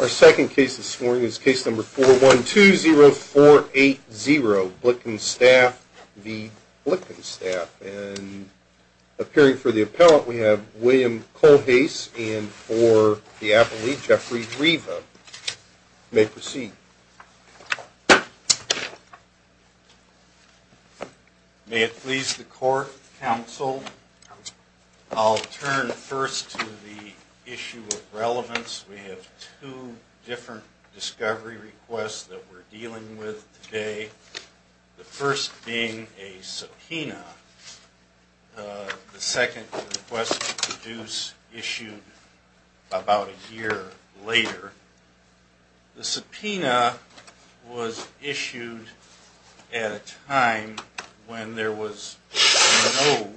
Our second case this morning is case number 4120480, Blickenstaff v. Blickenstaff, and appearing for the appellant we have William Colhase and for the appellee Jeffrey Riva. You may proceed. May it please the court, counsel, I'll turn first to the issue of relevance. We have two different discovery requests that we're dealing with today. The first being a subpoena. The second request was issued about a year later. The subpoena was issued at a time when there was no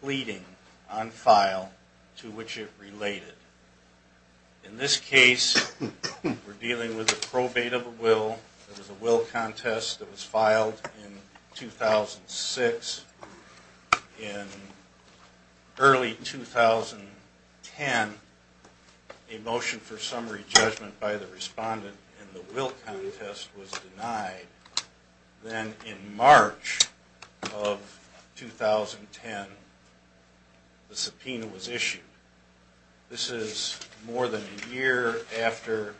pleading on file to which it related. In this case, we're dealing with a probate of a will. It was a will contest that was filed in 2006 in early 2010. A motion for summary judgment by the respondent in the will contest was denied. Then in March of 2010, the subpoena was issued. This is more than a year after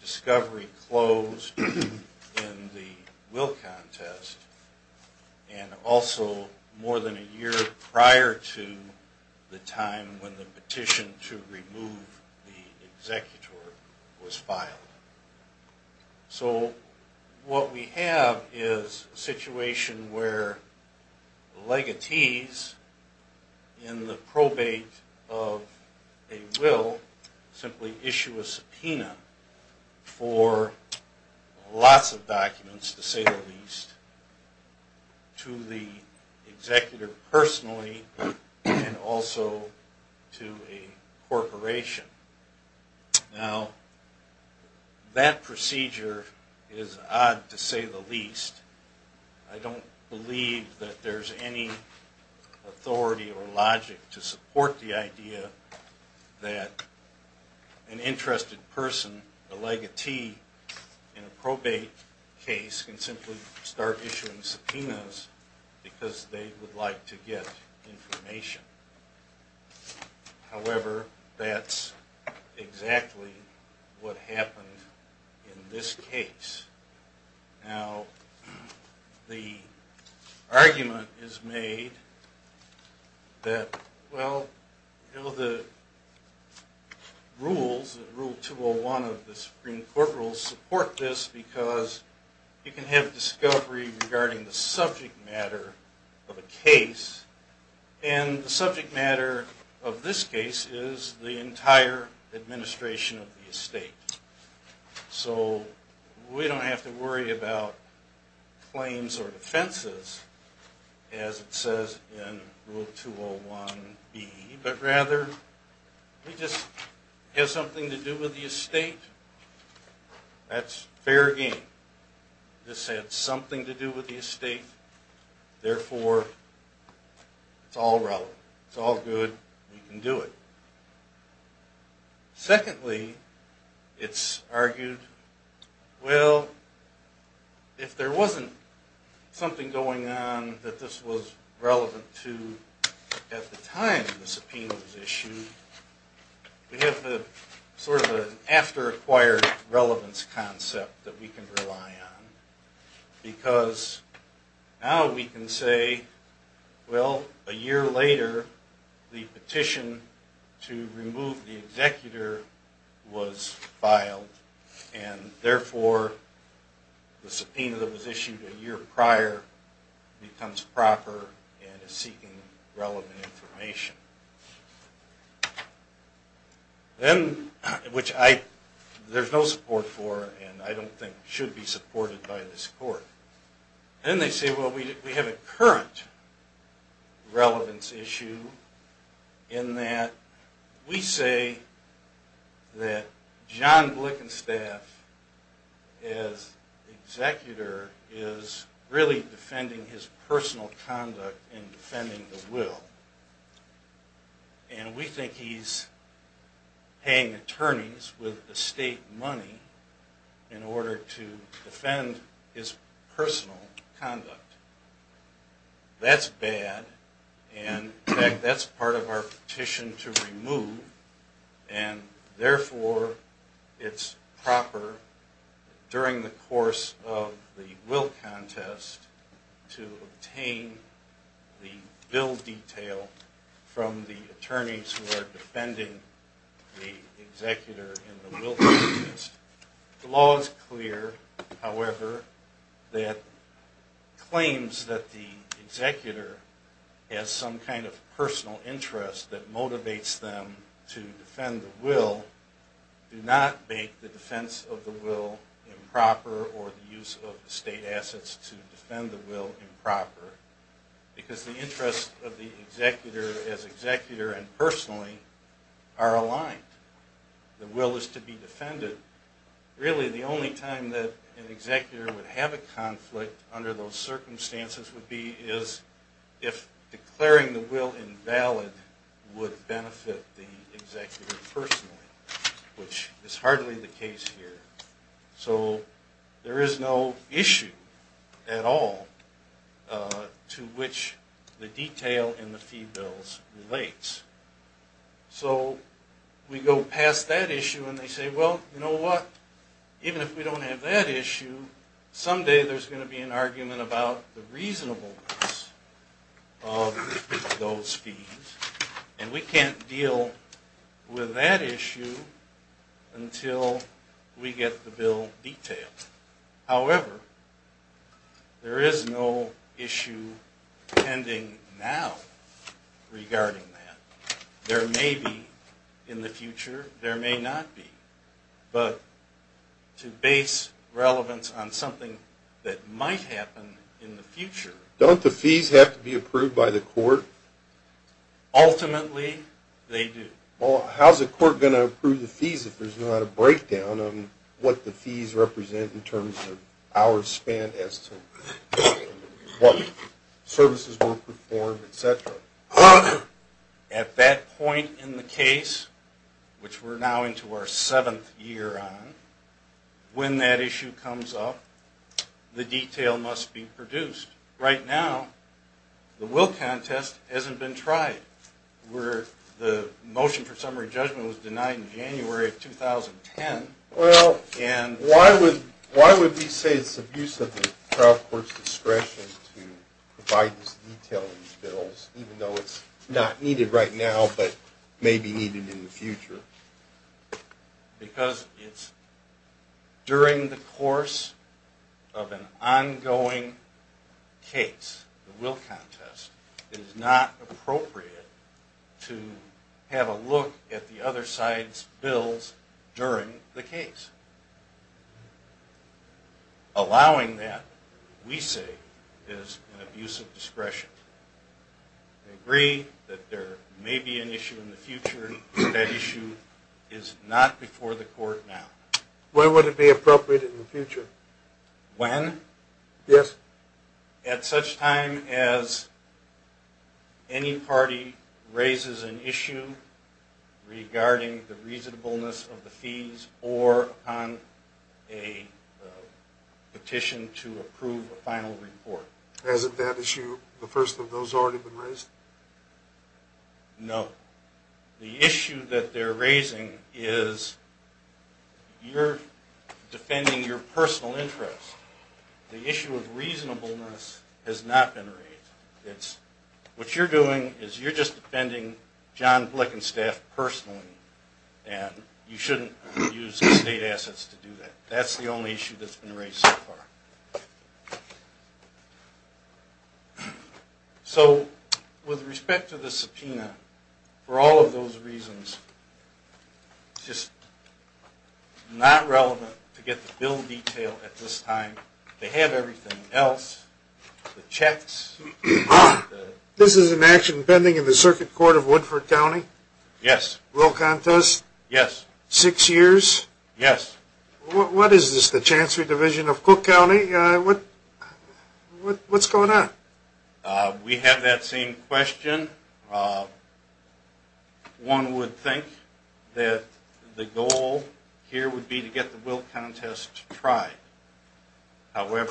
discovery closed in the will contest, and also more than a year prior to the time when the petition to remove the executor was filed. So what we have is a situation where legatees in the probate of a will simply issue a subpoena for lots of documents, to say the least, to the executor any authority or logic to support the idea that an interested person, a legatee in a probate case, can simply start issuing subpoenas because they would like to get information. However, that's exactly what happened in this case. Now, the argument is made that, well, you know, the rules, Rule 201 of the Supreme Court rules support this because you can have discovery regarding the subject matter of a case, and the subject matter of this case is the entire administration of the estate. So we don't have to worry about claims or offenses, as it says in Rule 201B, but rather it just has something to do with the estate. That's fair game. This has If there wasn't something going on that this was relevant to at the time the subpoena was issued, we have sort of an after-acquired relevance concept that we can rely on because now we can say, well, a year later the petition to remove the executor was filed, and therefore the subpoena that was issued a year prior becomes proper and is seeking relevant information. Then, which there's no support for, and I don't think should be supported by this court. Then they say, well, we have a current relevance issue in that we say that John Blickenstaff, as executor, is really defending his personal conduct. That's bad, and in fact, that's part of our petition to remove, and therefore it's proper during the course of the will contest to obtain the However, that claims that the executor has some kind of personal interest that motivates them to defend the will, do not make the defense of the will improper or the use of estate assets to defend the will improper, because the interests of the executor as executor and personally are aligned. The will is to be defended. Really, the only time that an executor would have a conflict under those circumstances would be if declaring the will invalid would benefit the executor personally, which is hardly the case here. So there is no issue at all to which the detail in the fee bills relates. So we go past that issue and they say, well, you know what, even if we don't have that issue, someday there's going to be an argument about the reasonableness of those fees, and we can't deal with that issue until we get the bill detailed. However, there is no issue pending now regarding that. There may be in the future, there may not be. But to base relevance on something that might happen in the future. Don't the fees have to be approved by the court? Ultimately, they do. Well, how's the court going to approve the fees if there's not a breakdown on what the fees represent in terms of hours spent as to what services were performed, etc.? At that point in the case, which we're now into our seventh year on, when that issue comes up, the detail must be produced. Right now, the will contest hasn't been tried. The motion for summary judgment was denied in January of 2010. Well, why would we say it's abusive of the trial court's discretion to provide this detail in these bills, even though it's not needed right now, but may be needed in the future? Because it's during the course of an ongoing case, the will contest, it is not appropriate to have a look at the other side's bills during the case. Allowing that, we say, is an abuse of discretion. We agree that there may be an issue in the future, but that issue is not before the court now. When would it be appropriate in the future? When? Yes. At such time as any party raises an issue regarding the reasonableness of the fees or on a petition to approve a final report. Hasn't that issue, the first of those, already been raised? No. The issue that they're raising is you're defending your personal interest. The issue of reasonableness has not been raised. What you're doing is you're just defending John Blick and staff personally, and you shouldn't use state assets to do that. That's the only issue that's been raised so far. So, with respect to the subpoena, for all of those reasons, it's just not relevant to get the bill detailed at this time. They have everything else, the checks. This is an action pending in the Circuit Court of Woodford County? Yes. Will contest? Yes. Six years? Yes. What is this, the Chancellor's Division of Cook County? What's going on? We have that same question. One would think that the goal here would be to get the will contest tried. However,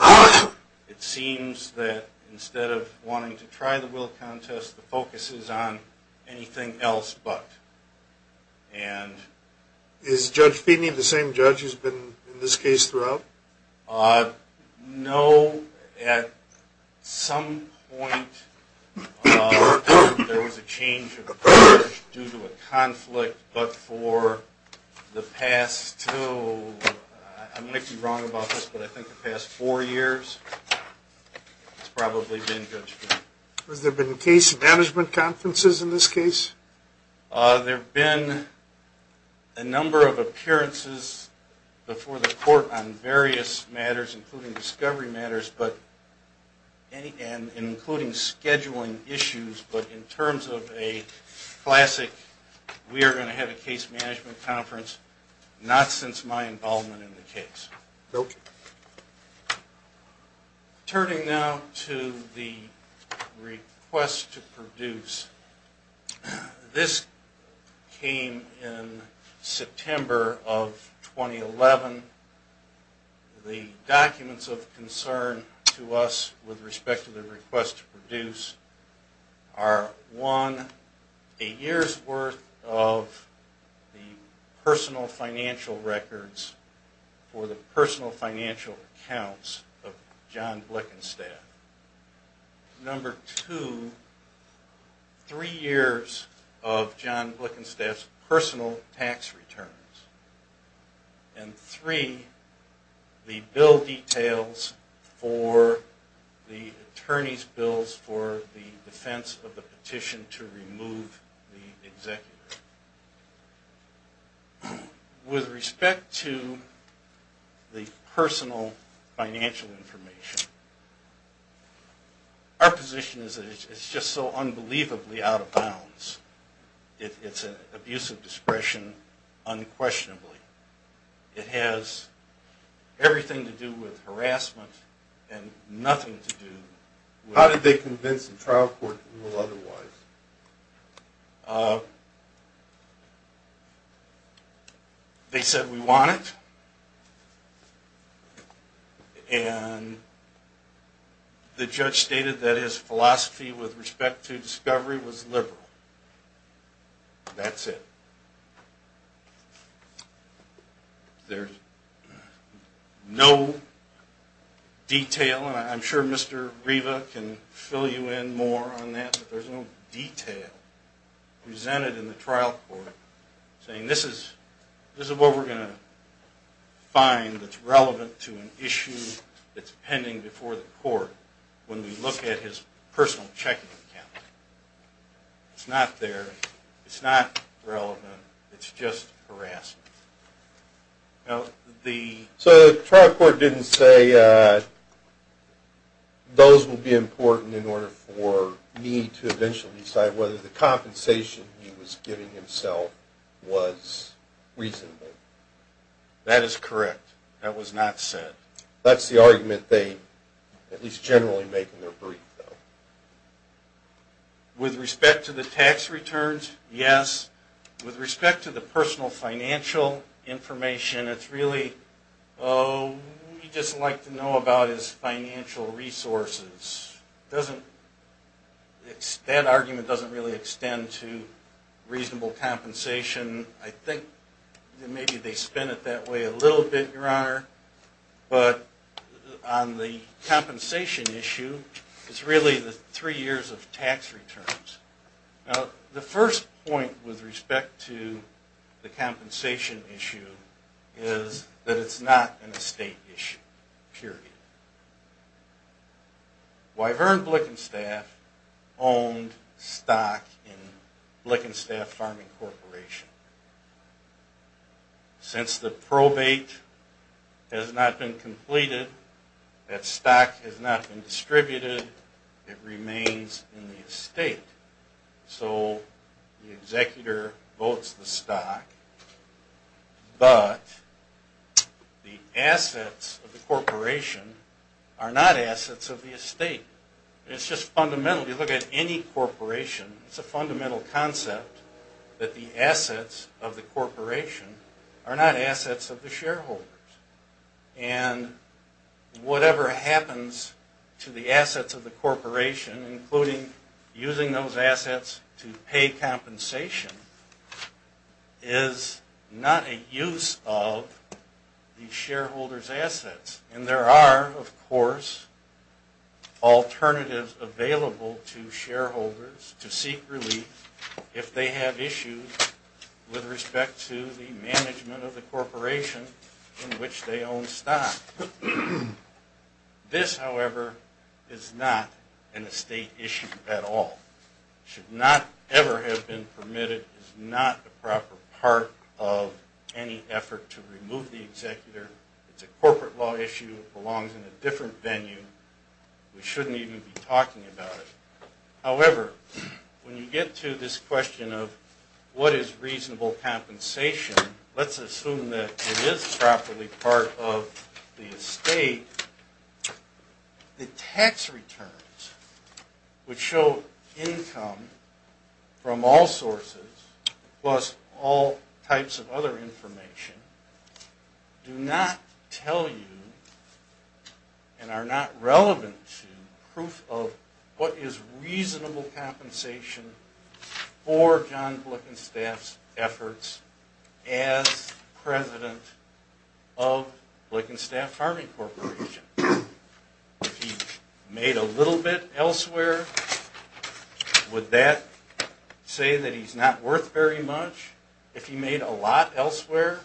it seems that instead of wanting to try the will contest, the focus is on anything else but. And is Judge Feeney the same judge who's been in this case throughout? No. At some point, there was a change of approach due to a conflict, but for the past two, I might be wrong about this, but I think the past four years, it's probably been Judge Feeney. Has there been case management conferences in this case? There have been a number of appearances before the court on various matters, including discovery matters, and including scheduling issues, but in terms of a classic, we are going to have a case management conference, not since my involvement in the case. Okay. Turning now to the request to produce. This came in September of 2011. The documents of concern to us with respect to the request to produce are, one, a year's worth of the personal financial records for the personal financial accounts of John Blickenstaff. Number two, three years of John Blickenstaff's personal tax returns. And three, the bill details for the attorney's bills for the defense of the petition to remove the executor. With respect to the personal financial information, our position is that it's just so unbelievably out of bounds. It's an abuse of discretion unquestionably. It has everything to do with harassment and nothing to do with… They said we want it, and the judge stated that his philosophy with respect to discovery was liberal. That's it. There's no detail, and I'm sure Mr. Riva can fill you in more on that, but there's no detail presented in the trial court saying this is what we're going to find that's relevant to an issue that's pending before the court when we look at his personal checking account. It's not there. It's not relevant. It's just harassment. So the trial court didn't say those will be important in order for me to eventually decide whether the compensation he was giving himself was reasonable. That is correct. That was not said. That's the argument they at least generally make in their brief, though. With respect to the tax returns, yes. With respect to the personal financial information, it's really, oh, we'd just like to know about his financial resources. That argument doesn't really extend to reasonable compensation. I think maybe they spin it that way a little bit, Your Honor, but on the compensation issue, it's really the three years of tax returns. Now, the first point with respect to the compensation issue is that it's not an estate issue, period. Wyvern Blickenstaff owned stock in Blickenstaff Farming Corporation. Since the probate has not been completed, that stock has not been distributed, it remains in the estate. So the executor votes the stock, but the assets of the corporation are not assets of the estate. It's just fundamental. If you look at any corporation, it's a fundamental concept that the assets of the corporation are not assets of the shareholders. And whatever happens to the assets of the corporation, including using those assets to pay compensation, is not a use of the shareholders' assets. And there are, of course, alternatives available to shareholders to seek relief if they have issues with respect to the management of the corporation in which they own stock. This, however, is not an estate issue at all. It should not ever have been permitted. It is not a proper part of any effort to remove the executor. It's a corporate law issue. It belongs in a different venue. We shouldn't even be talking about it. However, when you get to this question of what is reasonable compensation, let's assume that it is properly part of the estate, the tax returns, which show income from all sources plus all types of other information, do not tell you and are not relevant to proof of what is reasonable compensation for John Blickenstaff's efforts as president of Blickenstaff Farming Corporation. If he made a little bit elsewhere, would that say that he's not worth very much? If he made a lot elsewhere,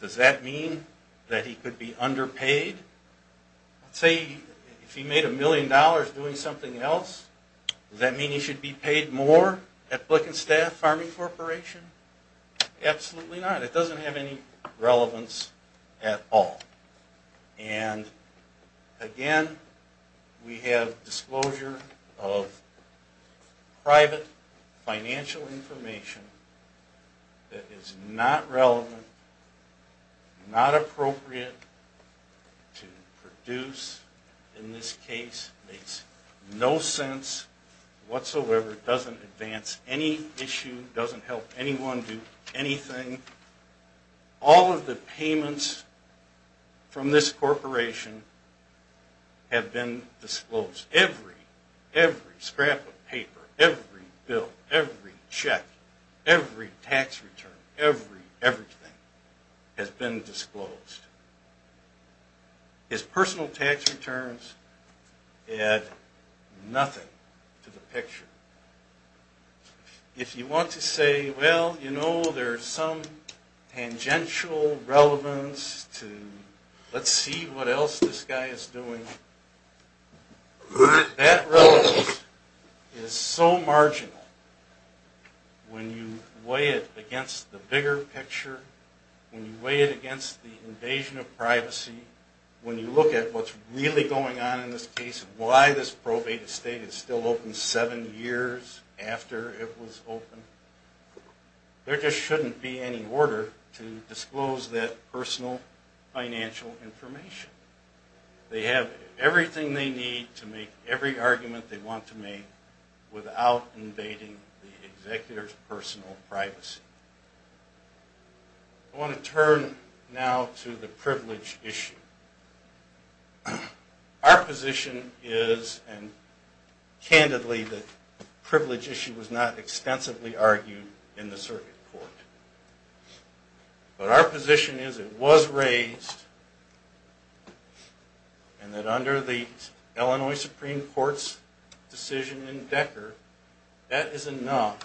does that mean that he could be underpaid? Say, if he made a million dollars doing something else, does that mean he should be paid more at Blickenstaff Farming Corporation? Absolutely not. It doesn't have any relevance at all. And again, we have disclosure of private financial information that is not relevant, not appropriate to produce. In this case, it makes no sense whatsoever. It doesn't advance any issue. It doesn't help anyone do anything. All of the payments from this corporation have been disclosed. Every, every scrap of paper, every bill, every check, every tax return, everything has been disclosed. His personal tax returns add nothing to the picture. If you want to say, well, you know, there's some tangential relevance to let's see what else this guy is doing, that relevance is so marginal when you weigh it against the bigger picture, when you weigh it against the invasion of privacy, when you look at what's really going on in this case, why this probated state is still open seven years, after it was open, there just shouldn't be any order to disclose that personal financial information. They have everything they need to make every argument they want to make without invading the executor's personal privacy. I want to turn now to the privilege issue. Our position is, and candidly the privilege issue was not extensively argued in the circuit court, but our position is it was raised and that under the Illinois Supreme Court's decision in Decker, that is enough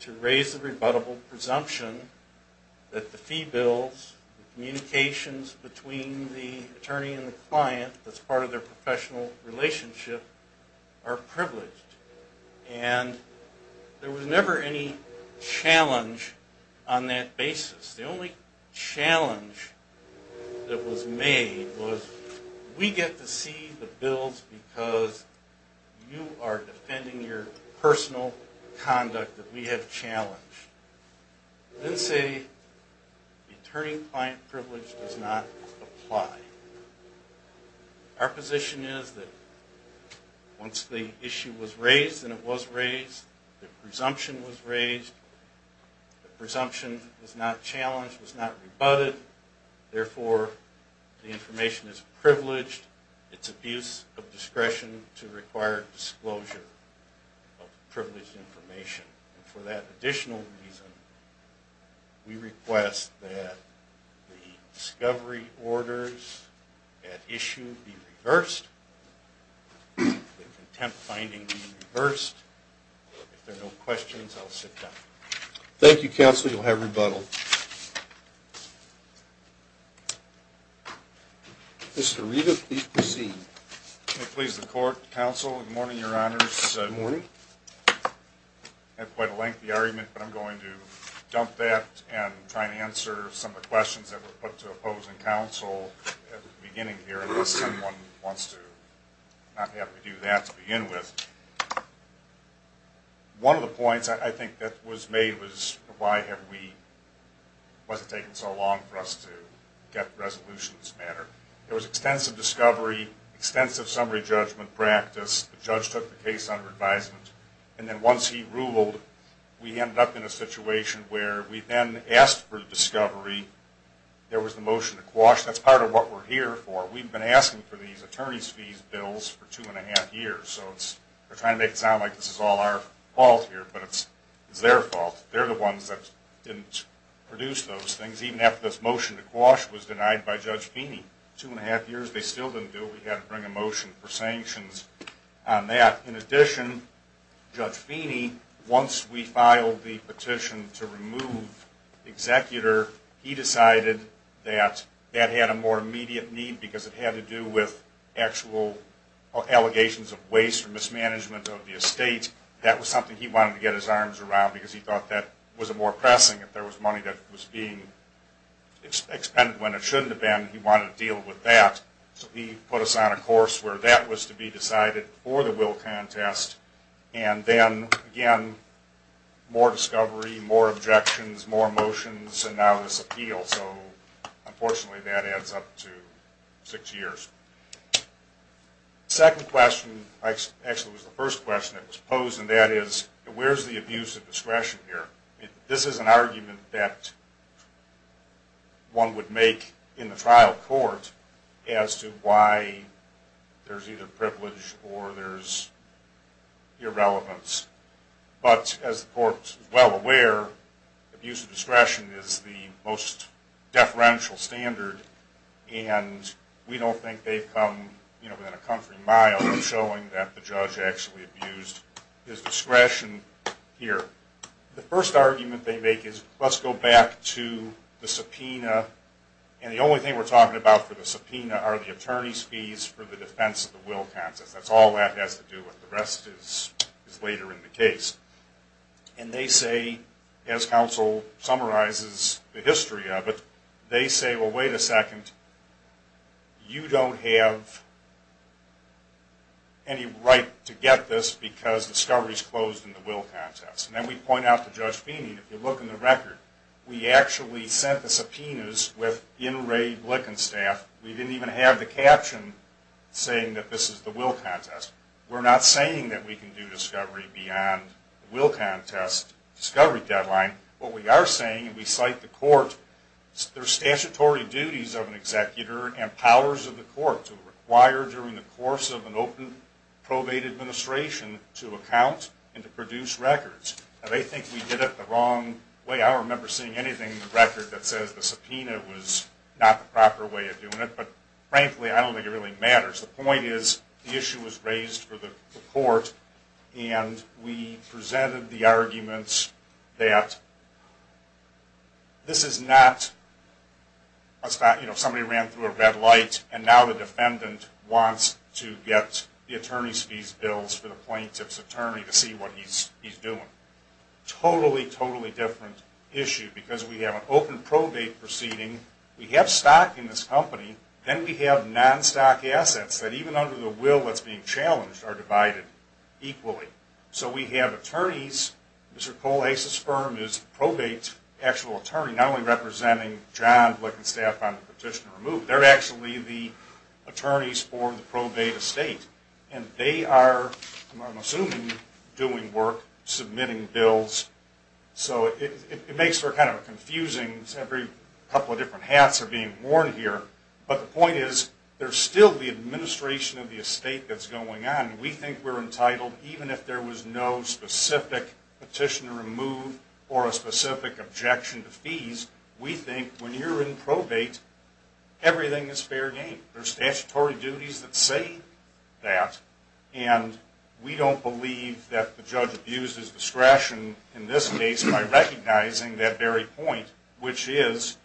to raise the rebuttable presumption that the fee bills, the communications between the attorney and the client that's part of their professional relationship are privileged. And there was never any challenge on that basis. The only challenge that was made was we get to see the bills because you are defending your personal conduct that we have challenged. Then say the attorney-client privilege does not apply. Our position is that once the issue was raised and it was raised, the presumption was raised, the presumption was not challenged, was not rebutted, therefore the information is privileged, it's abuse of discretion to require disclosure of privileged information. For that additional reason, we request that the discovery orders at issue be reversed, the contempt finding be reversed. If there are no questions, I'll sit down. Thank you, counsel. You'll have rebuttal. Mr. Riva, please proceed. May it please the court, counsel, good morning, your honors. Good morning. I had quite a lengthy argument, but I'm going to dump that and try to answer some of the questions that were put to opposing counsel at the beginning here unless someone wants to not have me do that to begin with. One of the points I think that was made was why have we, why has it taken so long for us to get resolutions mattered. There was extensive discovery, extensive summary judgment practice, the judge took the case under advisement, and then once he ruled, we ended up in a situation where we then asked for the discovery, there was the motion to quash, that's part of what we're here for, we've been asking for these attorney's fees bills for two and a half years. We're trying to make it sound like this is all our fault here, but it's their fault. They're the ones that didn't produce those things, even after this motion to quash was denied by Judge Feeney. Two and a half years, they still didn't do it, we had to bring a motion for sanctions on that. In addition, Judge Feeney, once we filed the petition to remove the executor, he decided that that had a more immediate need because it had to do with actual allegations of waste or mismanagement of the estate, that was something he wanted to get his arms around because he thought that was more pressing if there was money that was being expended when it shouldn't have been, he wanted to deal with that. So he put us on a course where that was to be decided before the will contest, and then again, more discovery, more objections, more motions, and now this appeal, so unfortunately that adds up to six years. The second question, actually it was the first question that was posed, and that is, where's the abuse of discretion here? This is an argument that one would make in the trial court as to why there's either privilege or there's irrelevance. But as the court is well aware, abuse of discretion is the most deferential standard, and we don't think they've come within a comforting mile of showing that the judge actually abused his discretion here. The first argument they make is, let's go back to the subpoena, and the only thing we're talking about for the subpoena are the attorney's fees for the defense of the will contest. That's all that has to do with the rest is later in the case. And they say, as counsel summarizes the history of it, they say, well, wait a second, you don't have any right to get this because discovery is closed in the will contest. And then we point out to Judge Feeney, if you look in the record, we actually sent the subpoenas with enraged Lickenstaff. We didn't even have the caption saying that this is the will contest. We're not saying that we can do discovery beyond the will contest discovery deadline. What we are saying, and we cite the court, there's statutory duties of an executor and powers of the court to require during the course of an open probate administration to account and to produce records. And they think we did it the wrong way. I don't remember seeing anything in the record that says the subpoena was not the proper way of doing it. But frankly, I don't think it really matters. The point is, the issue was raised for the court, and we presented the argument that this is not, you know, somebody ran through a red light, and now the defendant wants to get the attorney's fees bills for the plaintiff's attorney to see what he's doing. Totally, totally different issue. Because we have an open probate proceeding, we have stock in this company, then we have non-stock assets that even under the will that's being challenged are divided equally. So we have attorneys, Mr. Cole Acesperm is probate's actual attorney, not only representing John Lickenstaff on the petition to remove, they're actually the attorneys for the probate estate. And they are, I'm assuming, doing work submitting bills. So it makes for kind of a confusing, every couple of different hats are being worn here. But the point is, there's still the administration of the estate that's going on. We think we're entitled, even if there was no specific petition to remove or a specific objection to fees, we think when you're in probate, everything is fair game. There's statutory duties that say that. And we don't believe that the judge abuses discretion in this case by recognizing that very point, which is,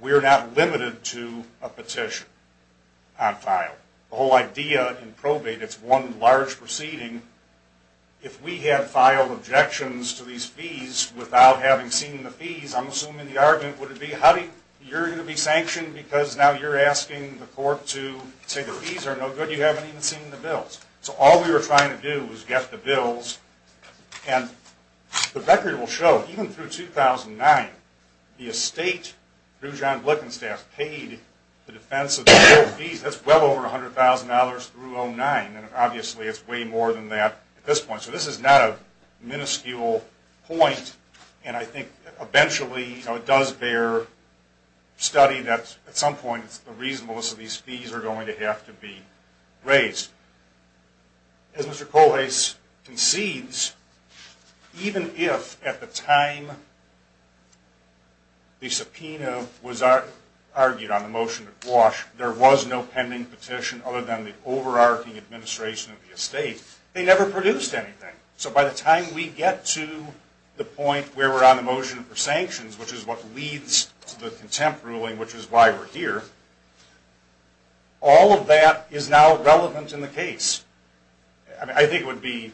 we're not limited to a petition on file. The whole idea in probate, it's one large proceeding. If we had filed objections to these fees without having seen the fees, I'm assuming the argument would be, you're going to be sanctioned because now you're asking the court to say the fees are no good, you haven't even seen the bills. So all we were trying to do was get the bills. And the record will show, even through 2009, the estate, through John Lickenstaff, paid the defense of the billed fees. That's well over $100,000 through 2009. And obviously it's way more than that at this point. So this is not a minuscule point. And I think eventually it does bear study that at some point the reasonableness of these fees are going to have to be raised. As Mr. Colhase concedes, even if at the time the subpoena was argued on the motion to quash, there was no pending petition other than the overarching administration of the estate, they never produced anything. So by the time we get to the point where we're on the motion for sanctions, which is what leads to the contempt ruling, which is why we're here, all of that is now relevant in the context of this case. I think it would be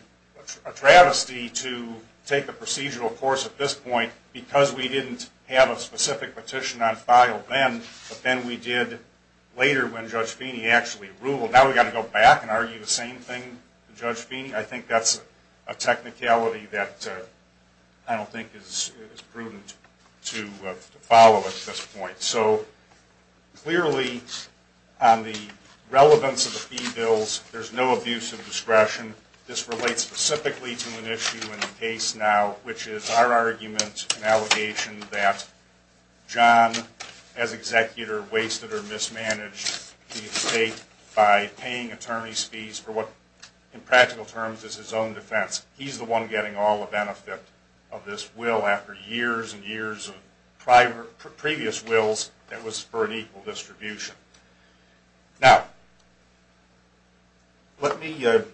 a travesty to take the procedural course at this point because we didn't have a specific petition on file then, but then we did later when Judge Feeney actually ruled. Now we've got to go back and argue the same thing with Judge Feeney? I think that's a technicality that I don't think is prudent to follow at this point. So clearly on the relevance of the fee bills, there's no abuse of discretion. This relates specifically to an issue in the case now, which is our argument and allegation that John, as executor, wasted or mismanaged the estate by paying attorney's fees for what, in practical terms, is his own defense. He's the one getting all the benefit of this will after years and years of previous wills that was for an equal distribution. Now, let me jump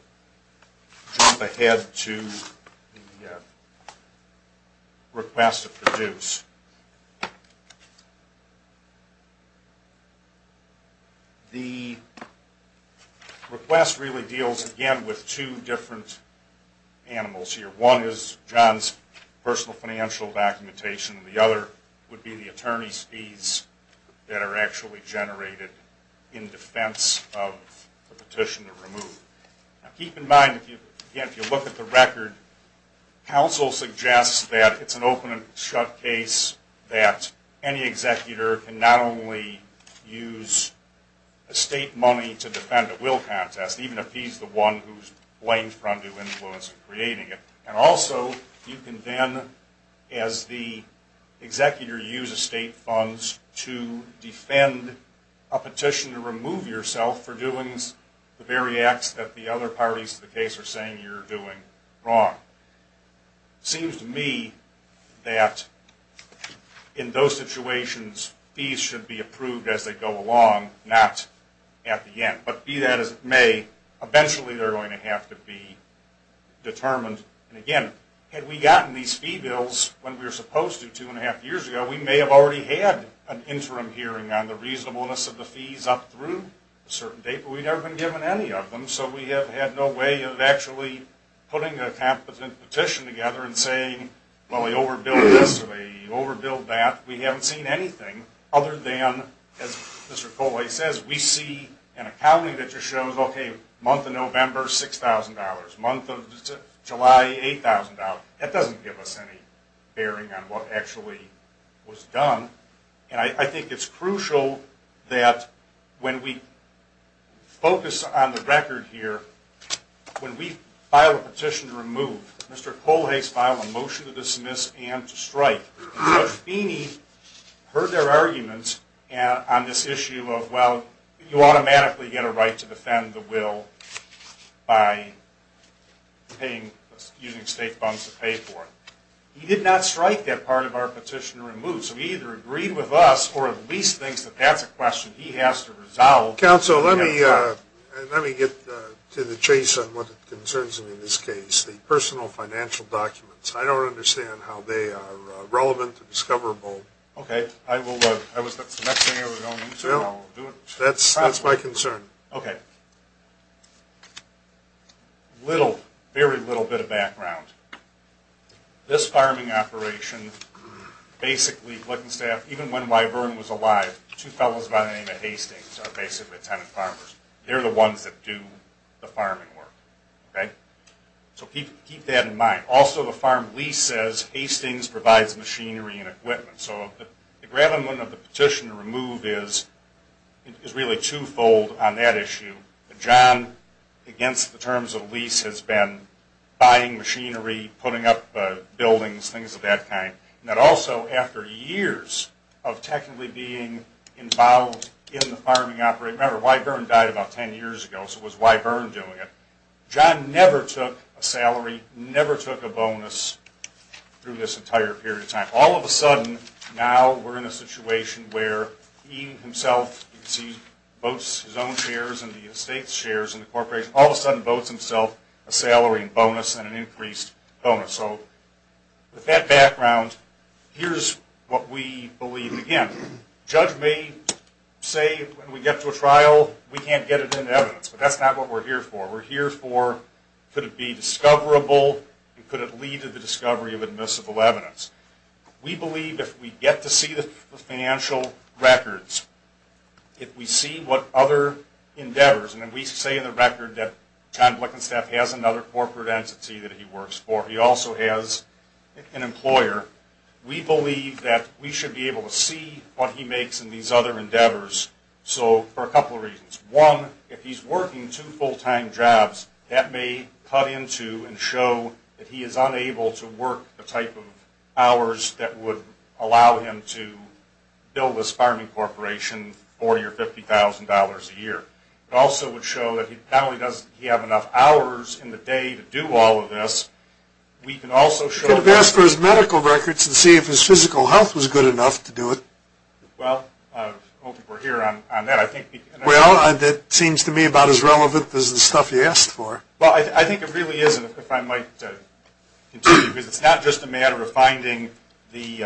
ahead to the request to produce. The request really deals, again, with two different animals here. One is John's personal financial documentation and the other would be the attorney's fees that are actually generated in defense of the petition to remove. Now, keep in mind, again, if you look at the record, counsel suggests that it's an open and shut case that any executor can not only use estate money to defend a will contest, even if he's the one who's blamed for undue influence in creating it, and also you can then, as the executor, use estate funds to defend a petition to remove yourself for doings the very acts that you have committed. It seems to me that in those situations, fees should be approved as they go along, not at the end. But be that as it may, eventually they're going to have to be determined. And again, had we gotten these fee bills when we were supposed to two and a half years ago, we may have already had an interim hearing on the reasonableness of the fees up through a certain date, but we've never been given any of them, so we have had no way of actually putting a competent petition together and saying, well, they overbilled this or they overbilled that. We haven't seen anything other than, as Mr. Kolhe says, we see an accounting that just shows, okay, month of November, $6,000, month of July, $8,000. That doesn't give us any bearing on what actually was done. And I think it's crucial that when we focus on the record here, when we file a petition to remove, Mr. Kolhe's filed a motion to dismiss and to strike. But if Beeney heard their arguments on this issue of, well, you automatically get a right to defend the will by using state funds to pay for it, he did not strike that part of our petition to remove. So he either agreed with us or at least thinks that that's a question he has to resolve. Well, counsel, let me get to the chase on what concerns me in this case, the personal financial documents. I don't understand how they are relevant and discoverable. Okay. That's my concern. Okay. Little, very little bit of background. This farming operation, basically Glickenstaff, even when Wyvern was alive, two fellows by the name of Hastings are basically tenant farmers. They're the ones that do the farming work. Okay? So keep that in mind. Also, the farm lease says Hastings provides machinery and equipment. So the gravamen of the petition to remove is really twofold on that issue. John, against the terms of the lease, has been buying machinery, putting up buildings, things of that kind. John never took a salary, never took a bonus through this entire period of time. All of a sudden, now we're in a situation where he himself, as you can see, votes his own shares and the state's shares and the corporation, all of a sudden votes himself a salary and bonus and an increased bonus. So with that background, here's what we believe. Again, judge may say when we get to a trial, we can't get it into evidence. But that's not what we're here for. We're here for could it be discoverable and could it lead to the discovery of admissible evidence. We believe if we get to see the financial records, if we see what other endeavors, and we say in the record that John Blickenstaff has another corporate entity that he works for, he also has an employer, we believe that we should be able to see what he makes in these other endeavors. So for a couple of reasons. One, if he's working two full-time jobs, that may cut into and show that he is unable to work the type of hours that would allow him to build this farming corporation, $40,000 or $50,000 a year. It also would show that not only does he have enough hours in the day to do all of this, we can also show... Could have asked for his medical records to see if his physical health was good enough to do it. Well, I hope we're here on that. Well, that seems to me about as relevant as the stuff you asked for. Well, I think it really isn't, if I might continue, because it's not just a matter of finding the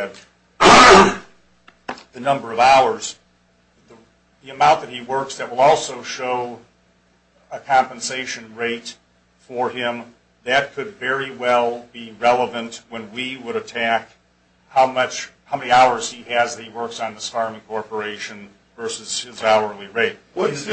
number of hours. The amount that he works that will also show a compensation rate for him, that could very well be relevant when we would attack how many hours he has that he works on this farming corporation versus his hourly rate. What is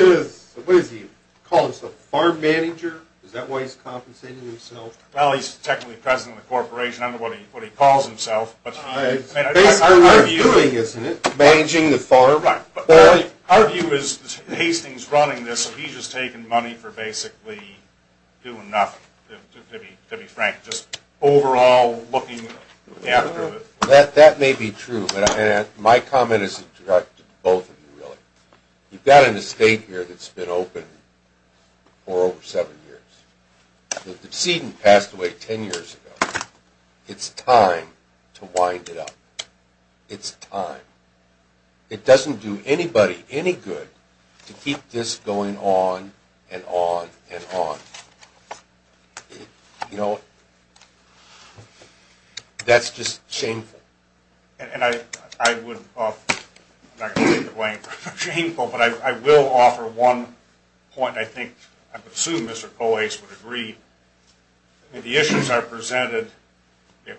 he? Call himself a farm manager? Is that why he's compensating himself? Well, he's technically president of the corporation. I don't know what he calls himself. It's basically what he's doing, isn't it? Managing the farm? Our view is, Hastings running this, he's just taking money for basically doing nothing, to be frank. Just overall looking after... That may be true, but my comment is to both of you, really. You've got an estate here that's been open for over seven years. The decedent passed away ten years ago. It's time to wind it up. It's time. It doesn't do anybody any good to keep this going on and on and on. You know, that's just shameful. And I would offer, I'm not going to take the blame for shameful, but I will offer one point I think, I would assume Mr. Coase would agree. The issues are presented,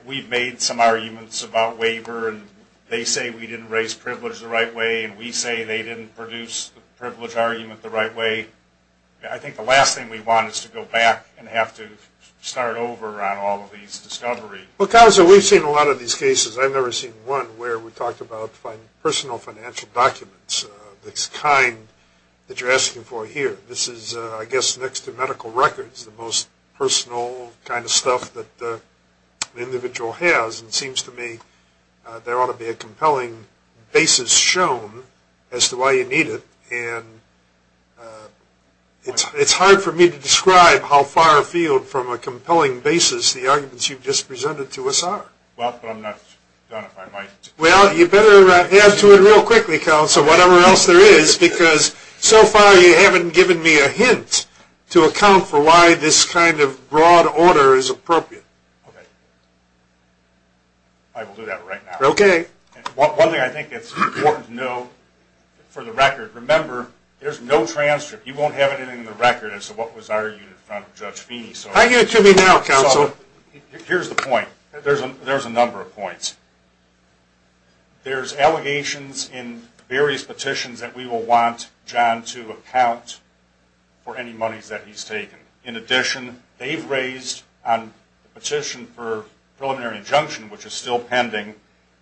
we've made some arguments about waiver and they say we didn't raise privilege the right way and we say they didn't produce the privilege argument the right way. I think the last thing we want is to go back and have to start over on all of these discoveries. Well, Counselor, we've seen a lot of these cases. I've never seen one where we talked about personal financial documents, the kind that you're asking for here. This is, I guess, next to medical records, the most personal kind of stuff that the individual has. And it seems to me there ought to be a compelling basis shown as to why you need it. And it's hard for me to describe how far afield from a compelling basis the arguments you've just presented to us are. Well, but I'm not done if I might. Well, you better add to it real quickly, Counselor, whatever else there is, because so far you haven't given me a hint to account for why this kind of broad order is appropriate. Okay. I will do that right now. Okay. One thing I think it's important to know for the record, remember, there's no transcript. You won't have anything in the record as to what was argued in front of Judge Feeney. I need it to me now, Counselor. Here's the point. There's a number of points. There's allegations in various petitions that we will want John to account for any monies that he's taken. In addition, they've raised on the petition for preliminary injunction, which is still pending,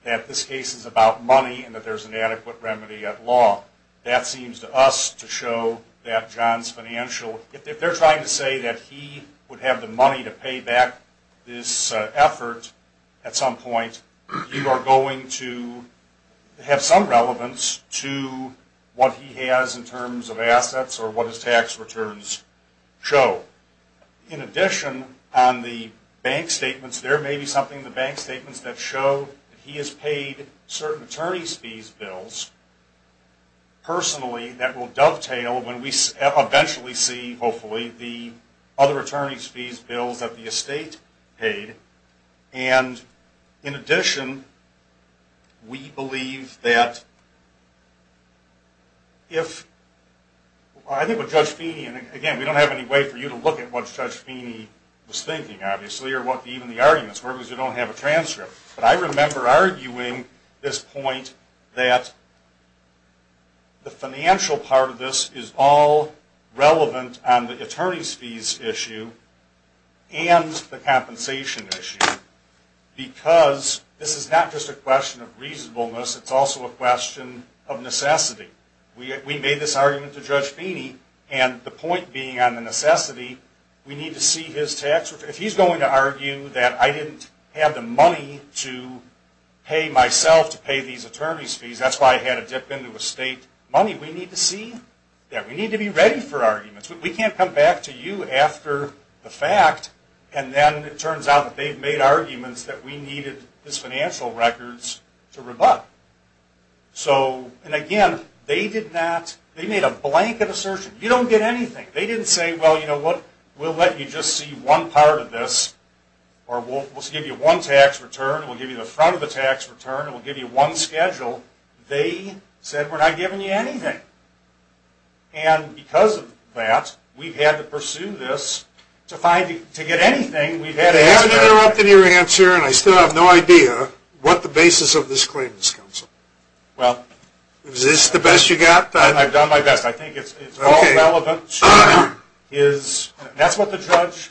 that this case is about money and that there's an adequate remedy at law. That seems to us to show that John's financial – if they're trying to say that he would have the money to pay back this effort at some point, you are going to have some relevance to what he has in terms of assets or what his tax returns show. In addition, on the bank statements, there may be something in the bank statements that show that he has paid certain attorney's fees bills, personally, that will dovetail when we eventually see, hopefully, the other attorney's fees bills that the estate paid. In addition, we believe that if – I think with Judge Feeney, and again, we don't have any way for you to look at what Judge Feeney was thinking, obviously, or what even the arguments were, because you don't have a transcript. But I remember arguing this point that the financial part of this is all relevant on the attorney's fees issue and the compensation issue, because this is not just a question of reasonableness, it's also a question of necessity. We made this argument to Judge Feeney, and the point being on the necessity, we need to see his tax – if he's going to argue that I didn't have the money to pay myself to pay these attorney's fees, that's why I had to dip into estate money, we need to see that. We need to be ready for arguments. We can't come back to you after the fact, and then it turns out that they've made arguments that we needed his financial records to rebut. So, and again, they did not – they made a blanket assertion. You don't get anything. They didn't say, well, you know what, we'll let you just see one part of this, or we'll give you one tax return, we'll give you the front of the tax return, and we'll give you one schedule. They said, we're not giving you anything. And because of that, we've had to pursue this to find – to get anything. I have to interrupt in your answer, and I still have no idea what the basis of this claim is, counsel. Well – Is this the best you've got? I've done my best. I think it's all relevant to his – that's what the judge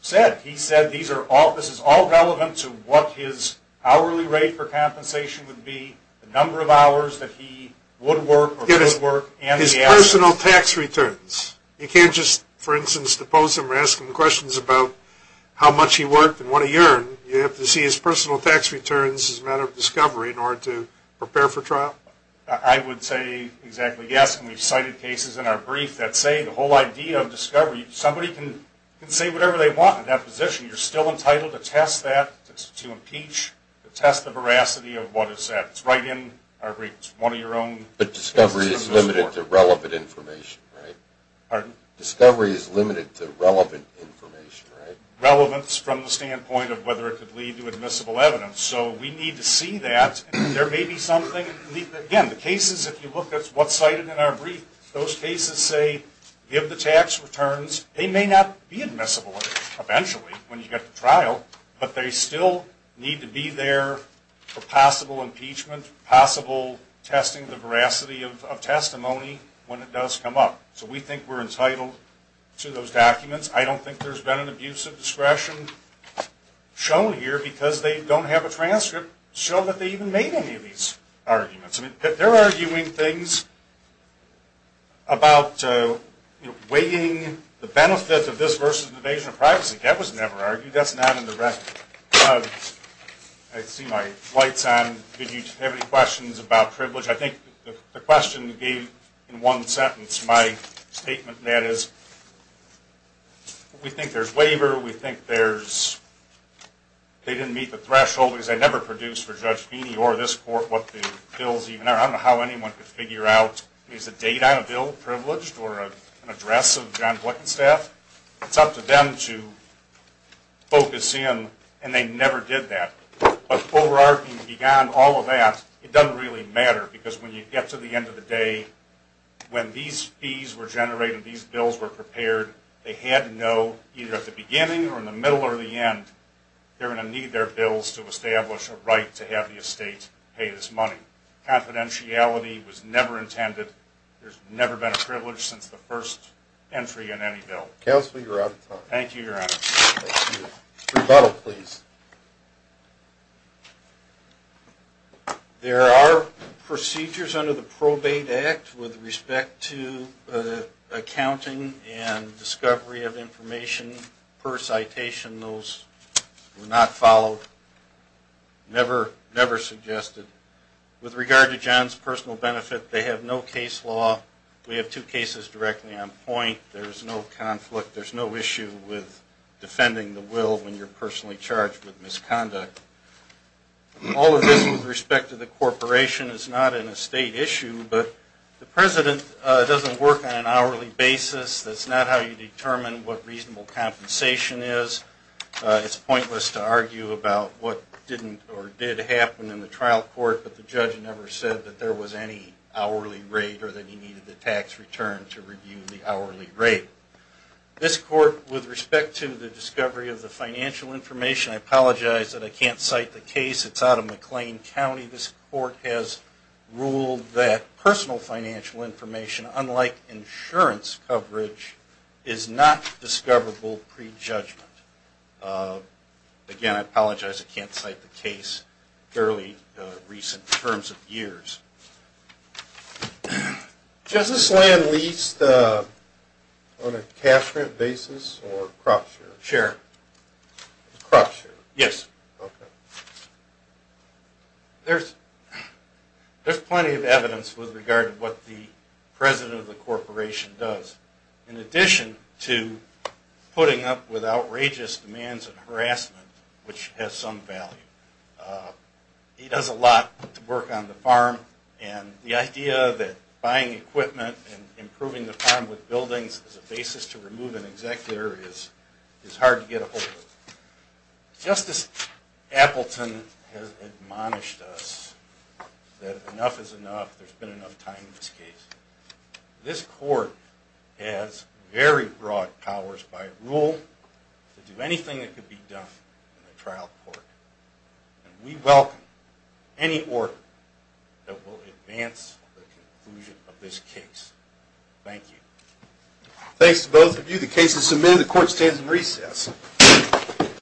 said. He said these are all – this is all relevant to what his hourly rate for compensation would be, the number of hours that he would work or could work, and the – His personal tax returns. You can't just, for instance, depose him or ask him questions about how much he worked and what he earned. You have to see his personal tax returns as a matter of discovery in order to prepare for trial. I would say exactly yes, and we've cited cases in our brief that say the whole idea of discovery – somebody can say whatever they want in that position. You're still entitled to test that, to impeach, to test the veracity of what is said. It's right in our brief. It's one of your own. But discovery is limited to relevant information, right? Pardon? Discovery is limited to relevant information, right? Relevance from the standpoint of whether it could lead to admissible evidence. So we need to see that. There may be something – again, the cases, if you look at what's cited in our brief, those cases say give the tax returns. They may not be admissible, eventually, when you get to trial, but they still need to be there for possible impeachment, possible testing the veracity of testimony when it does come up. So we think we're entitled to those documents. I don't think there's been an abuse of discretion shown here because they don't have a transcript showing that they even made any of these arguments. I mean, they're arguing things about weighing the benefits of this versus invasion of privacy. That was never argued. That's not in the record. I see my light's on. Did you have any questions about privilege? I think the question gave, in one sentence, my statement. That is, we think there's waiver. We think there's – they didn't meet the threshold, because they never produced for Judge Feeney or this court what the bills even are. I don't know how anyone could figure out, is the date on a bill privileged or an address of John Blinkenstaff? It's up to them to focus in, and they never did that. But overarching beyond all of that, it doesn't really matter, because when you get to the end of the day, when these fees were generated, these bills were prepared, they had to know, either at the beginning or in the middle or the end, they're going to need their bills to establish a right to have the estate pay this money. Confidentiality was never intended. There's never been a privilege since the first entry in any bill. Counsel, you're out of time. Thank you, Your Honor. Rebuttal, please. There are procedures under the Probate Act with respect to accounting and discovery of information per citation. Those were not followed, never suggested. With regard to John's personal benefit, they have no case law. We have two cases directly on point. There's no conflict. There's no issue with defending the will when you're personally charged with misconduct. All of this with respect to the corporation is not an estate issue, but the president doesn't work on an hourly basis. That's not how you determine what reasonable compensation is. It's pointless to argue about what didn't or did happen in the trial court, but the judge never said that there was any hourly rate or that he needed the tax return to review the hourly rate. This court, with respect to the discovery of the financial information, I apologize that I can't cite the case. It's out of McLean County. This court has ruled that personal financial information, unlike insurance coverage, is not discoverable pre-judgment. Again, I apologize I can't cite the case. Fairly recent terms of years. Does this land lease on a cash rent basis or crop share? Share. Crop share? Yes. Okay. There's plenty of evidence with regard to what the president of the corporation does. In addition to putting up with outrageous demands of harassment, which has some value, he does a lot to work on the farm, and the idea that buying equipment and improving the farm with buildings as a basis to remove an executor is hard to get a hold of. Justice Appleton has admonished us that enough is enough. There's been enough time in this case. This court has very broad powers by rule to do anything that can be done in a trial court, and we welcome any order that will advance the conclusion of this case. Thank you. Thanks to both of you. The case is submitted. The court stands in recess.